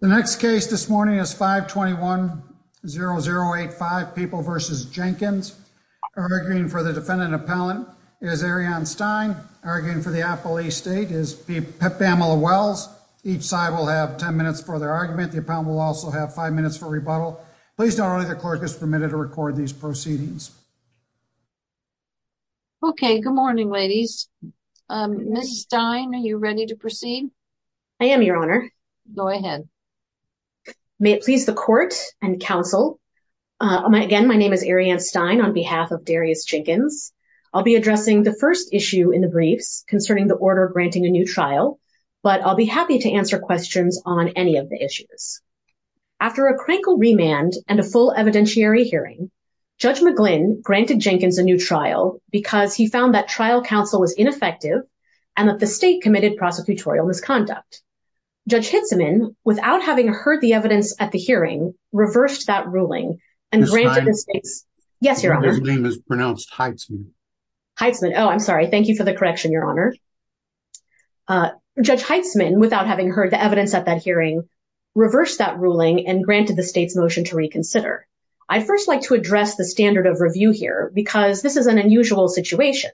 The next case this morning is 521-0085, People v. Jenkins, arguing for the defendant appellant is Ariane Stein, arguing for the appellee state is Pamela Wells. Each side will have 10 minutes for their argument. The appellant will also have five minutes for rebuttal. Please note only the clerk is permitted to record these proceedings. Okay, good morning ladies. Ms. Stein, are you ahead? May it please the court and counsel. Again, my name is Ariane Stein on behalf of Darius Jenkins. I'll be addressing the first issue in the briefs concerning the order of granting a new trial, but I'll be happy to answer questions on any of the issues. After a crankle remand and a full evidentiary hearing, Judge McGlynn granted Jenkins a new trial because he found that trial counsel was ineffective and that the state committed prosecutorial misconduct. Judge Hitzeman, without having heard the evidence at the hearing, reversed that ruling and granted the state's motion to reconsider. I'd first like to address the standard of review here because this is an unusual situation.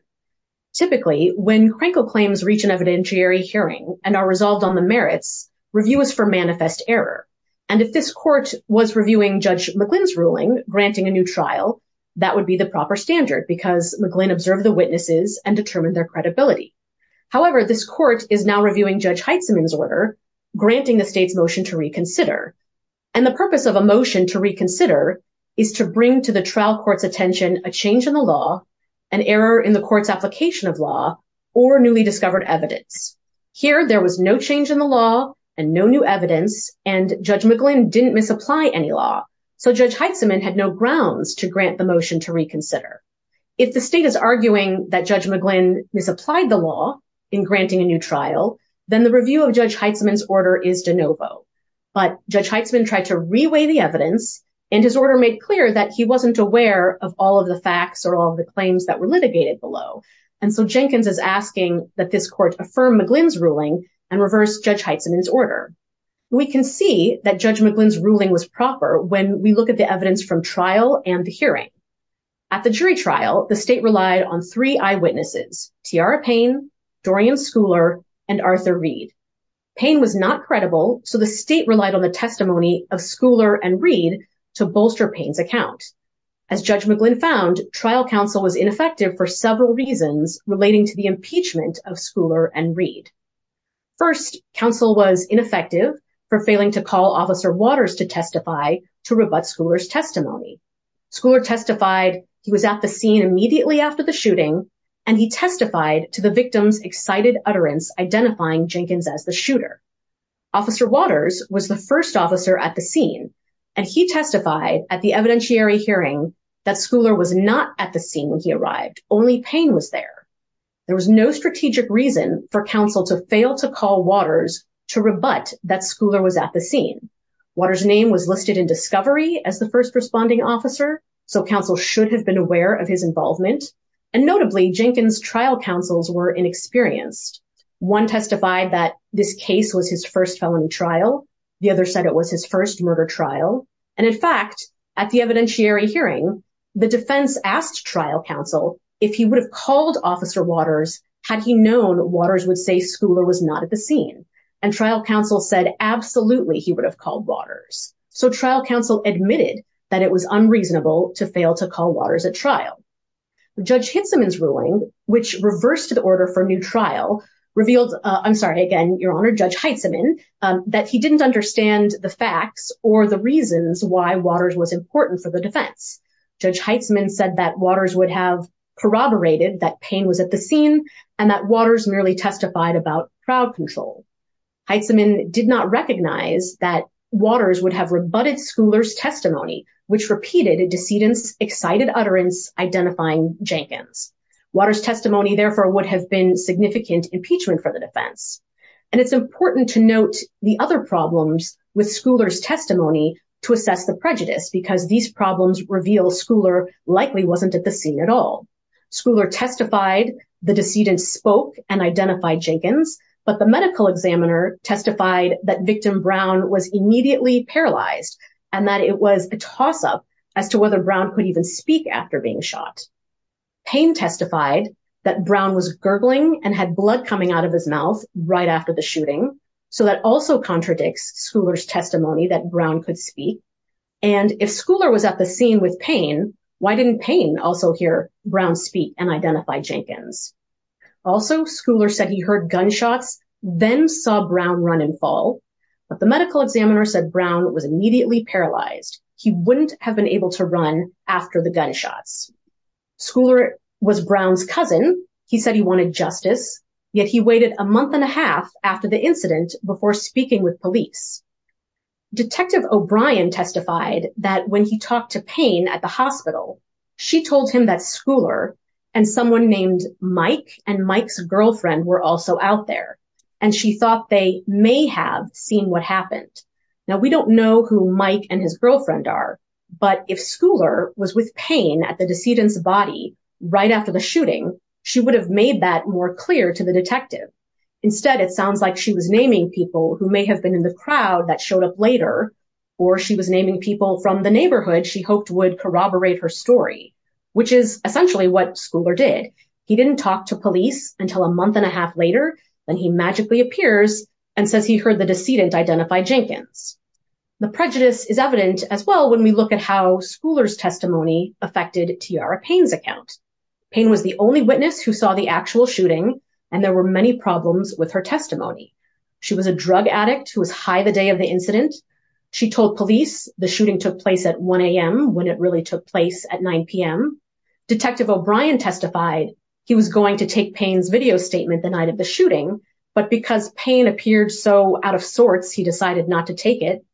Typically, when crankle claims reach an evidentiary hearing and are resolved on the merits, review is for manifest error. And if this court was reviewing Judge McGlynn's ruling, granting a new trial, that would be the proper standard because McGlynn observed the witnesses and determined their credibility. However, this court is now reviewing Judge Hitzeman's order, granting the state's motion to reconsider. And the purpose of a motion to reconsider is to bring to the trial court's or newly discovered evidence. Here, there was no change in the law and no new evidence, and Judge McGlynn didn't misapply any law. So Judge Hitzeman had no grounds to grant the motion to reconsider. If the state is arguing that Judge McGlynn misapplied the law in granting a new trial, then the review of Judge Hitzeman's order is de novo. But Judge Hitzeman tried to reweigh the evidence, and his order made clear that he wasn't aware of all of the facts or all of the claims that were litigated below. And so Jenkins is asking that this court affirm McGlynn's ruling and reverse Judge Hitzeman's order. We can see that Judge McGlynn's ruling was proper when we look at the evidence from trial and the hearing. At the jury trial, the state relied on three eyewitnesses, Tiara Payne, Dorian Schouler, and Arthur Reed. Payne was not credible, so the state relied on the testimony of Schouler and Reed to bolster Payne's account. As Judge McGlynn found, trial counsel was ineffective for several reasons relating to the impeachment of Schouler and Reed. First, counsel was ineffective for failing to call Officer Waters to testify to rebut Schouler's testimony. Schouler testified he was at the scene immediately after the shooting, and he testified to the victim's excited utterance identifying Jenkins as the shooter. Officer Waters was the at the scene when he arrived. Only Payne was there. There was no strategic reason for counsel to fail to call Waters to rebut that Schouler was at the scene. Waters' name was listed in discovery as the first responding officer, so counsel should have been aware of his involvement. And notably, Jenkins' trial counsels were inexperienced. One testified that this case was his first felony trial. The other said it was his first murder trial. And in fact, at the evidentiary hearing, the defense asked trial counsel if he would have called Officer Waters had he known Waters would say Schouler was not at the scene. And trial counsel said absolutely he would have called Waters. So trial counsel admitted that it was unreasonable to fail to call Waters at trial. Judge Hitzeman's ruling, which reversed the order for a new trial, revealed, I'm sorry, again, Your Honor, Judge Hitzeman, that he didn't understand the facts or the reasons why Waters was important for the defense. Judge Hitzeman said that Waters would have corroborated that Payne was at the scene and that Waters merely testified about trial control. Hitzeman did not recognize that Waters would have rebutted Schouler's testimony, which repeated a decedent's excited utterance identifying Jenkins. Waters' testimony, therefore, would have been significant impeachment for the defense. And it's important to note the other problems with Schouler's prejudice, because these problems reveal Schouler likely wasn't at the scene at all. Schouler testified the decedent spoke and identified Jenkins, but the medical examiner testified that victim Brown was immediately paralyzed and that it was a toss-up as to whether Brown could even speak after being shot. Payne testified that Brown was gurgling and had blood coming out of his mouth right after the shooting. So that also contradicts Schouler's speech. And if Schouler was at the scene with Payne, why didn't Payne also hear Brown speak and identify Jenkins? Also, Schouler said he heard gunshots, then saw Brown run and fall, but the medical examiner said Brown was immediately paralyzed. He wouldn't have been able to run after the gunshots. Schouler was Brown's cousin. He said he wanted justice, yet he waited a month and a half after the incident before speaking with police. Detective O'Brien testified that when he talked to Payne at the hospital, she told him that Schouler and someone named Mike and Mike's girlfriend were also out there, and she thought they may have seen what happened. Now, we don't know who Mike and his girlfriend are, but if Schouler was with Payne at the decedent's body right after the shooting, she would have made that more clear to the detective. Instead, it sounds like she was naming people who may have been in the crowd that showed up later, or she was naming people from the neighborhood she hoped would corroborate her story, which is essentially what Schouler did. He didn't talk to police until a month and a half later, then he magically appears and says he heard the decedent identify Jenkins. The prejudice is evident as well when we look at how Schouler's testimony affected Tiara Payne's account. Payne was the only witness who saw the actual shooting, and there were many problems with her testimony. She was a drug addict who was high the day of the incident. She told police the shooting took place at 1 a.m. when it really took place at 9 p.m. Detective O'Brien testified he was going to take Payne's video statement the night of the shooting, but because Payne appeared so out of sorts, he decided not to take it,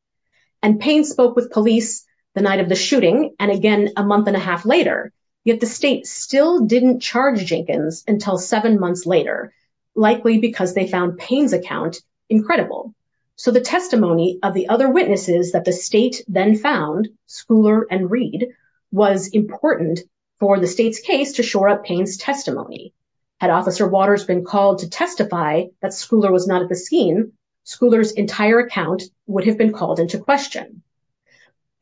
and Payne spoke with police the night of the shooting, and again a month and a half later, yet the state still didn't charge Jenkins until seven months later, likely because they found Payne's account incredible. So the testimony of the other witnesses that the state then found, Schouler and Reed, was important for the state's case to shore up Payne's testimony. Had Officer Waters been called to testify that Schouler was not at the scene, Schouler's entire account would have been called into question.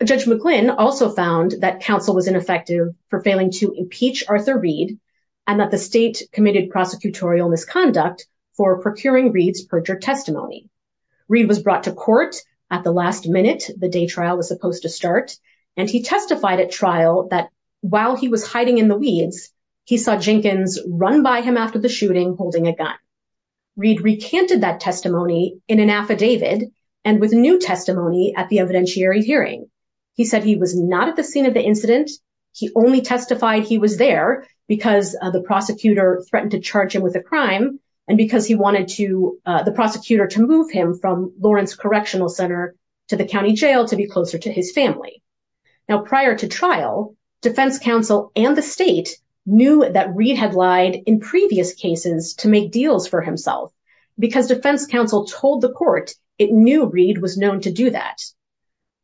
Judge McClinn also found that counsel was ineffective for failing to impeach Arthur Reed and that the state committed prosecutorial misconduct for procuring Reed's perjured testimony. Reed was brought to court at the last minute the day trial was supposed to start, and he testified at trial that while he was hiding in the weeds, he saw Jenkins run by him after the shooting holding a gun. Reed recanted that testimony in an affidavit and with new testimony at the evidentiary hearing. He said he was not at the scene of the incident. He only testified he was there because the prosecutor threatened to charge him with a crime and because he wanted the prosecutor to move him from Lawrence Correctional Center to the county jail to be closer to his family. Now prior to trial, defense counsel and the state knew that Reed had lied in previous cases to make deals for himself because defense counsel told the court it knew Reed was known to do that.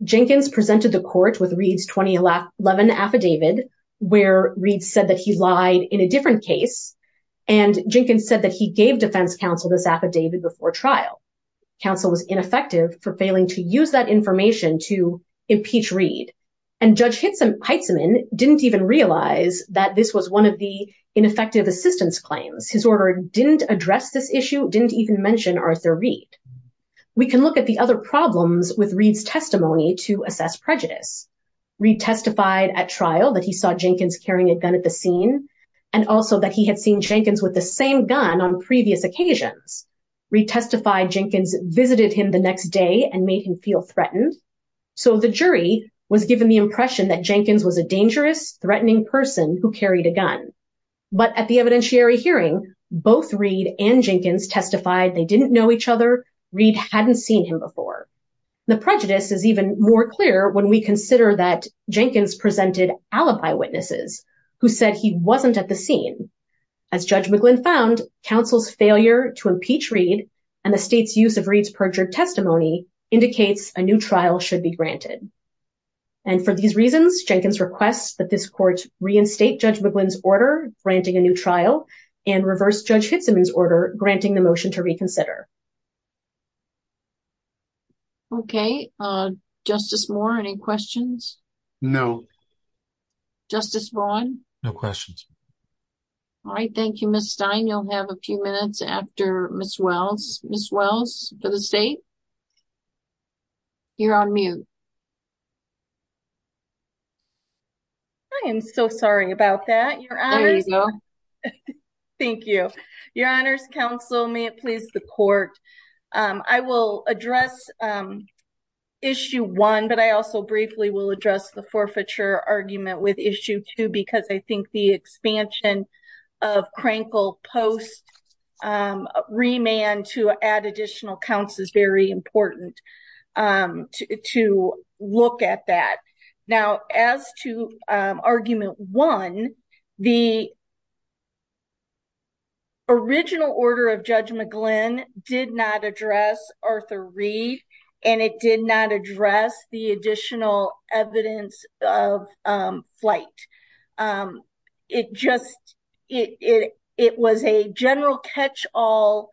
Jenkins presented the court with Reed's 2011 affidavit where Reed said that he lied in a different case, and Jenkins said that he gave defense counsel this affidavit before trial. Counsel was ineffective for failing to use that information to impeach Reed, and Judge Heitzeman didn't even realize that this was one of the ineffective assistance claims. His order didn't address this issue, didn't even mention Arthur Reed. We can look at the other problems with Reed's testimony to assess prejudice. Reed testified at the trial that he saw Jenkins carrying a gun at the scene, and also that he had seen Jenkins with the same gun on previous occasions. Reed testified Jenkins visited him the next day and made him feel threatened, so the jury was given the impression that Jenkins was a dangerous, threatening person who carried a gun. But at the evidentiary hearing, both Reed and Jenkins testified they didn't know each other. Reed hadn't seen him before. The prejudice is even more clear when we consider that Jenkins presented alibi witnesses who said he wasn't at the scene. As Judge McGlynn found, counsel's failure to impeach Reed and the state's use of Reed's perjured testimony indicates a new trial should be granted. And for these reasons, Jenkins requests that this court reinstate Judge McGlynn's order granting a new trial and reverse Judge Heitzeman's granting the motion to reconsider. Okay, Justice Moore, any questions? No. Justice Vaughn? No questions. All right, thank you, Ms. Stein. You'll have a few minutes after Ms. Wells. Ms. Wells for the state? You're on mute. I am so sorry about that. There you go. Thank you. Your honors, counsel, may it please the court. I will address issue one, but I also briefly will address the forfeiture argument with issue two because I think the expansion of Crankle post remand to add additional counts is very important to look at that. Now, as to argument one, the original order of Judge McGlynn did not address Arthur Reed and it did not address the additional evidence of flight. It was a general catch-all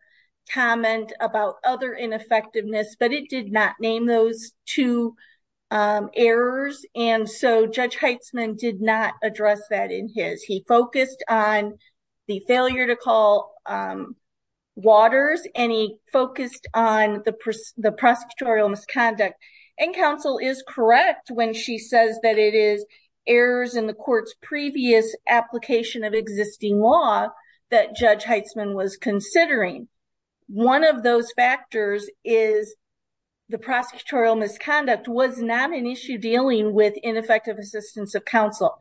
comment about other effectiveness, but it did not name those two errors. And so Judge Heitzeman did not address that in his. He focused on the failure to call waters and he focused on the prosecutorial misconduct. And counsel is correct when she says that it is errors in the court's previous application of existing law that Judge Heitzeman was considering. One of those factors is the prosecutorial misconduct was not an issue dealing with ineffective assistance of counsel.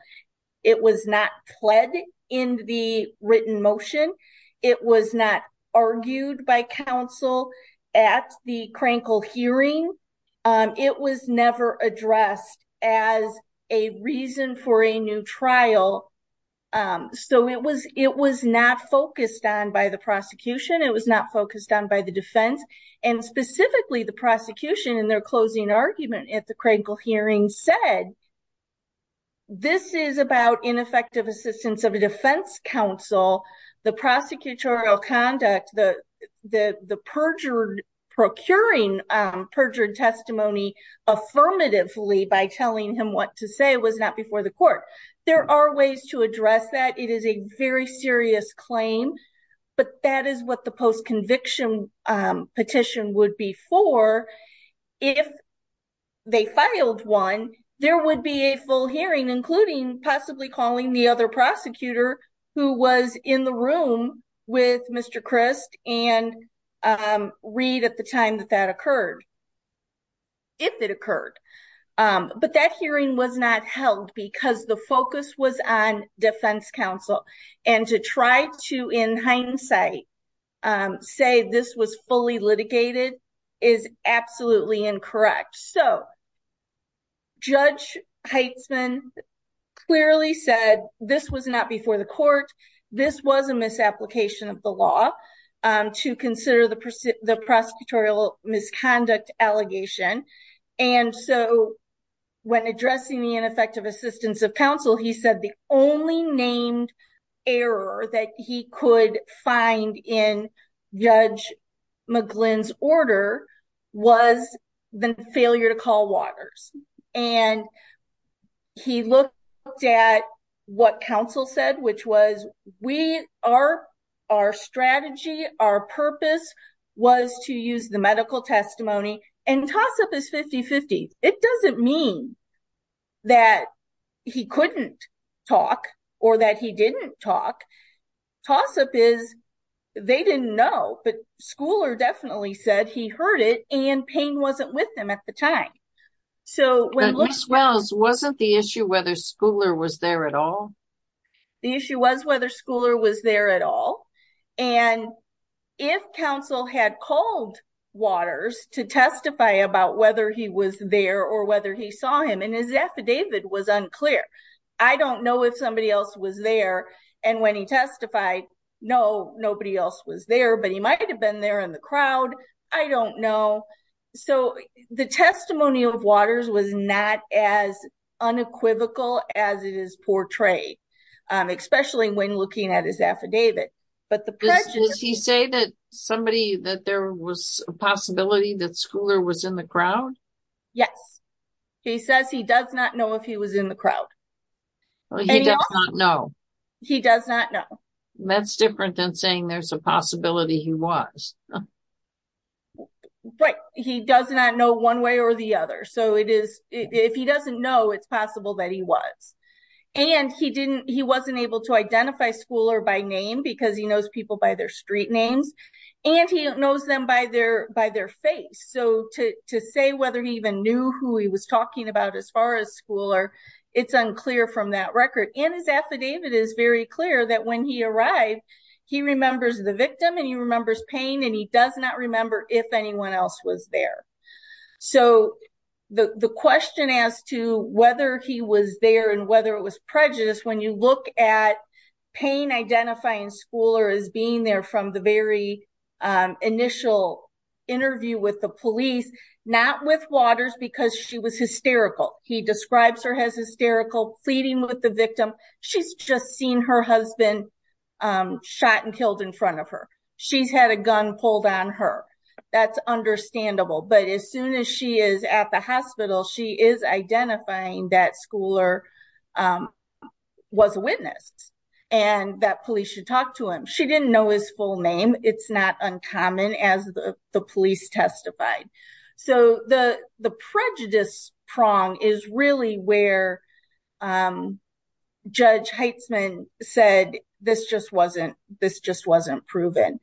It was not pled in the written motion. It was not argued by counsel at the Crankle hearing. It was never addressed as a reason for a new trial. So it was not focused on by the prosecution. It was not focused on by the defense and specifically the prosecution in their closing argument at the Crankle hearing said, this is about ineffective assistance of a defense counsel. The prosecutorial conduct, the procuring perjured testimony affirmatively by telling him what to say was not before the court. There are ways to address that. It is a very serious claim, but that is what the post-conviction petition would be for. If they filed one, there would be a full hearing, including calling the other prosecutor who was in the room with Mr. Crist and Reed at the time that that occurred, if it occurred. But that hearing was not held because the focus was on defense counsel. And to try to, in hindsight, say this was fully litigated is absolutely incorrect. So Judge Heitzman clearly said this was not before the court. This was a misapplication of the law to consider the prosecutorial misconduct allegation. And so when addressing the ineffective assistance of counsel, he said the only named error that he could find in Judge McGlynn's order was the failure to call waters. And he looked at what counsel said, which was our strategy, our purpose was to use the medical testimony. And toss-up is 50-50. It doesn't mean that he couldn't talk or that he didn't talk. Toss-up is they didn't know, but heard it, and Payne wasn't with them at the time. But Ms. Wells, wasn't the issue whether Schouler was there at all? The issue was whether Schouler was there at all. And if counsel had called waters to testify about whether he was there or whether he saw him, and his affidavit was unclear. I don't know if somebody else was there. And when he testified, no, nobody else was there, but he might've been there in the crowd. I don't know. So the testimony of waters was not as unequivocal as it is portrayed, especially when looking at his affidavit. But the prejudice... Does he say that somebody, that there was a possibility that Schouler was in the crowd? Yes. He says he does not know if he was in the crowd. He does not know. He does not know. That's different than saying there's a possibility he was. Right. He does not know one way or the other. So it is, if he doesn't know, it's possible that he was. And he didn't, he wasn't able to identify Schouler by name because he knows people by their street names and he knows them by their face. So to say whether he even knew who he was talking about as far as Schouler, it's unclear from that record. And his affidavit is very clear that when he arrived, he remembers the victim and he remembers pain and he does not remember if anyone else was there. So the question as to whether he was there and whether it was prejudice, when you look at pain identifying Schouler as being there from the very initial interview with the police, not with Waters because she was hysterical. He describes her as hysterical, pleading with the victim. She's just seen her husband shot and killed in front of her. She's had a gun pulled on her. That's understandable. But as soon as she is at the hospital, she is identifying that Schouler was a witness and that police should talk to him. She didn't know his full name. It's not uncommon as the police testified. So the prejudice prong is really where Judge Heitzman said, this just wasn't proven.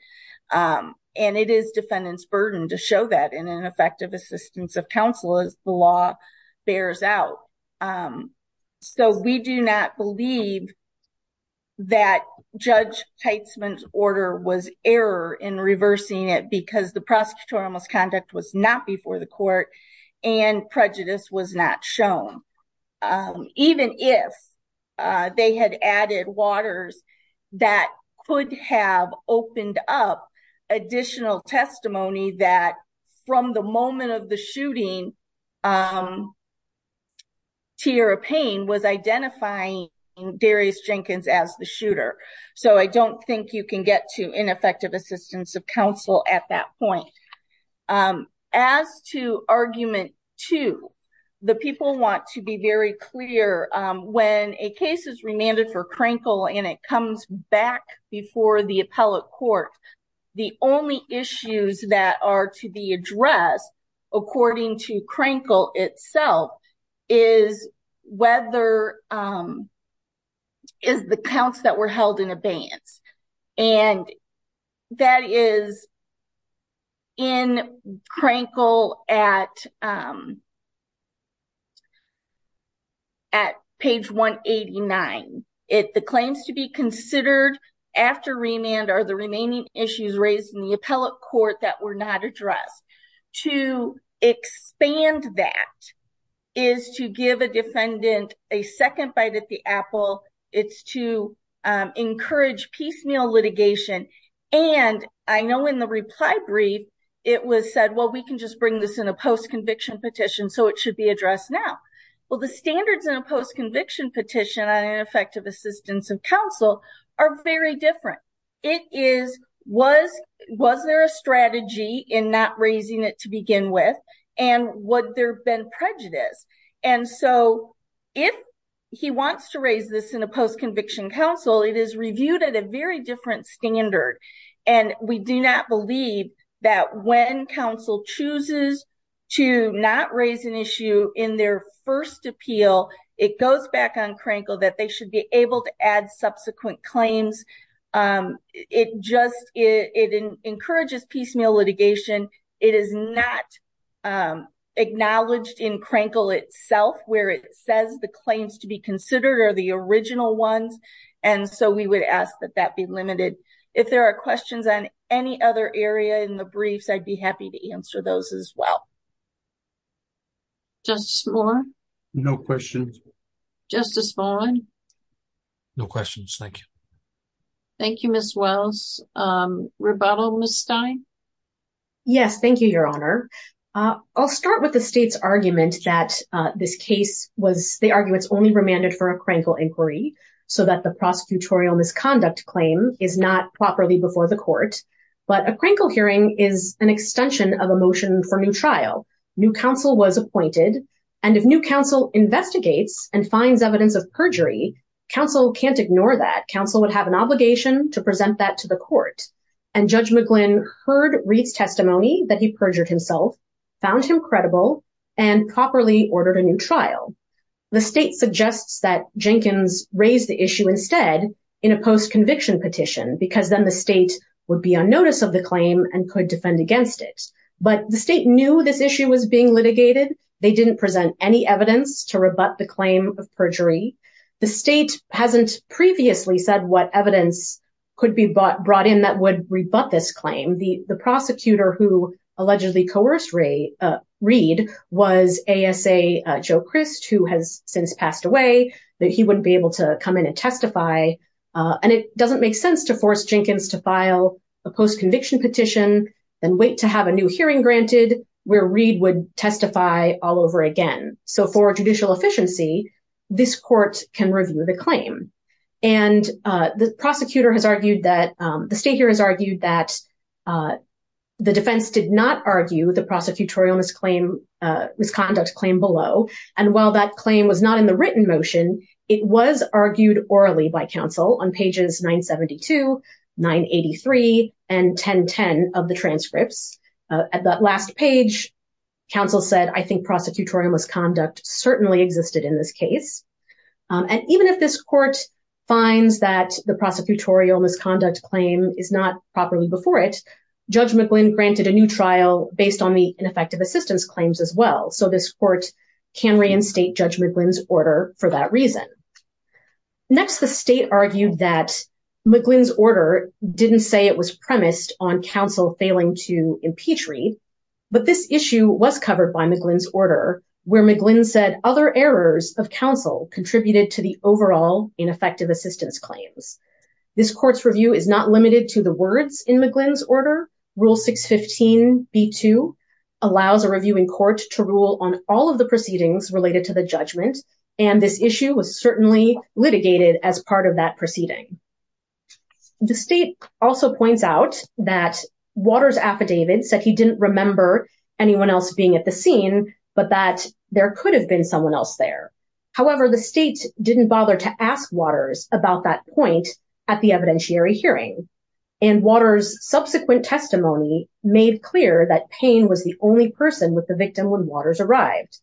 And it is defendant's burden to show that in an effective assistance of counsel as the law bears out. So we do not believe that Judge Heitzman's order was error in reversing it because the prosecutorial misconduct was not before the court and prejudice was not shown. Even if they had added Waters that could have opened up additional testimony that from the moment of the shooting, Tierra Payne was identifying Darius Jenkins as the shooter. So I don't think you can get to ineffective assistance of counsel at that point. As to argument two, the people want to be very clear when a case is remanded for Crankle and it comes back before the appellate court, the only issues that are to be addressed according to abeyance. And that is in Crankle at page 189. The claims to be considered after remand are the remaining issues raised in the appellate court that were not addressed. To expand that is to defendant a second bite at the apple. It's to encourage piecemeal litigation. And I know in the reply brief, it was said, well, we can just bring this in a post-conviction petition so it should be addressed now. Well, the standards in a post-conviction petition on ineffective assistance of counsel are very different. It is, was there a strategy in not raising it to begin with? And would there been prejudice? And so if he wants to raise this in a post-conviction counsel, it is reviewed at a very different standard. And we do not believe that when counsel chooses to not raise an issue in their first appeal, it goes back on Crankle that they be able to add subsequent claims. It just, it encourages piecemeal litigation. It is not acknowledged in Crankle itself where it says the claims to be considered are the original ones. And so we would ask that that be limited. If there are questions on any other area in the briefs, I'd be happy to answer those as well. Justice Moore? No questions. Justice Fallin? No questions. Thank you. Thank you, Ms. Wells. Rebuttal, Ms. Stein? Yes. Thank you, Your Honor. I'll start with the state's argument that this case was, they argue it's only remanded for a Crankle inquiry so that the prosecutorial misconduct claim is not properly before the court. But a Crankle hearing is an extension of a motion for new trial. New counsel was appointed. And if new counsel investigates and finds evidence of perjury, counsel can't ignore that. Counsel would have an obligation to present that to the court. And Judge McGlynn heard Reed's testimony that he perjured himself, found him credible, and properly because then the state would be on notice of the claim and could defend against it. But the state knew this issue was being litigated. They didn't present any evidence to rebut the claim of perjury. The state hasn't previously said what evidence could be brought in that would rebut this claim. The prosecutor who allegedly coerced Reed was ASA Joe Christ, who has since testified. And it doesn't make sense to force Jenkins to file a post-conviction petition and wait to have a new hearing granted where Reed would testify all over again. So for judicial efficiency, this court can review the claim. And the prosecutor has argued that, the state here has argued that the defense did not argue the prosecutorial misconduct claim below. And while that claim was not in the written motion, it was argued orally by counsel on pages 972, 983, and 1010 of the transcripts. At that last page, counsel said, I think prosecutorial misconduct certainly existed in this case. And even if this court finds that the prosecutorial misconduct claim is not properly before it, Judge McGlynn granted a new trial based on the ineffective assistance claims as well. So this court can reinstate Judge McGlynn's order for that reason. Next, the state argued that McGlynn's order didn't say it was premised on counsel failing to impeach Reed. But this issue was covered by McGlynn's order, where McGlynn said other errors of counsel contributed to the overall ineffective assistance claims. This court's review is not limited to the words in McGlynn's order. Rule 615b2 allows a reviewing court to rule on all of the proceedings related to the judgment. And this issue was certainly litigated as part of that proceeding. The state also points out that Waters' affidavit said he didn't remember anyone else being at the scene, but that there could have been someone else there. However, the state didn't bother to ask Waters about that point at the evidentiary hearing. And Waters' subsequent testimony made clear that Payne was the only person with the victim when Waters arrived.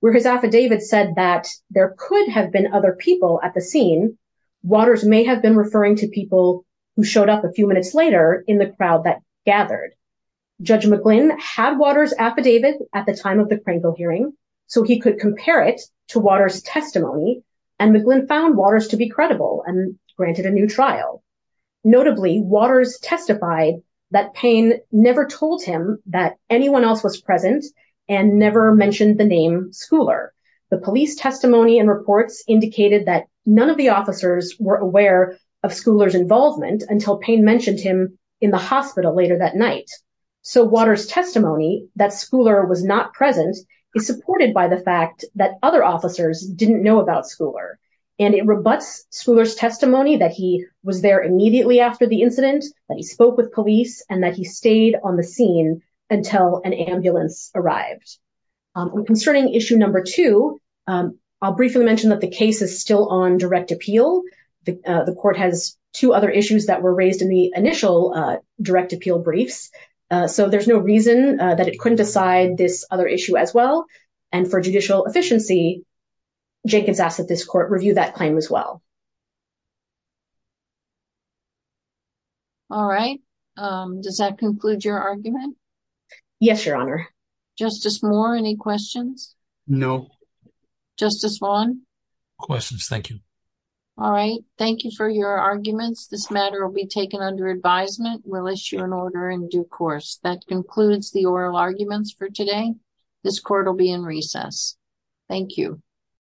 Where his affidavit said that there could have been other people at the scene, Waters may have been referring to people who showed up a few minutes later in the crowd that gathered. Judge McGlynn had Waters' affidavit at the time of the granted a new trial. Notably, Waters testified that Payne never told him that anyone else was present and never mentioned the name Schouler. The police testimony and reports indicated that none of the officers were aware of Schouler's involvement until Payne mentioned him in the hospital later that night. So Waters' testimony that Schouler was not present is supported by the fact that other officers didn't know about Schouler. And it rebuts Schouler's testimony that he was there immediately after the incident, that he spoke with police, and that he stayed on the scene until an ambulance arrived. Concerning issue number two, I'll briefly mention that the case is still on direct appeal. The court has two other issues that were raised in the initial direct appeal briefs. So there's no reason that it couldn't decide this other issue as well. And for judicial efficiency, Jenkins asked that this court review that claim as well. All right. Does that conclude your argument? Yes, Your Honor. Justice Moore, any questions? No. Justice Vaughn? Questions. Thank you. All right. Thank you for your arguments. This matter will be taken under advisement. We'll issue an order in due course. That concludes the oral arguments for this case. Thank you.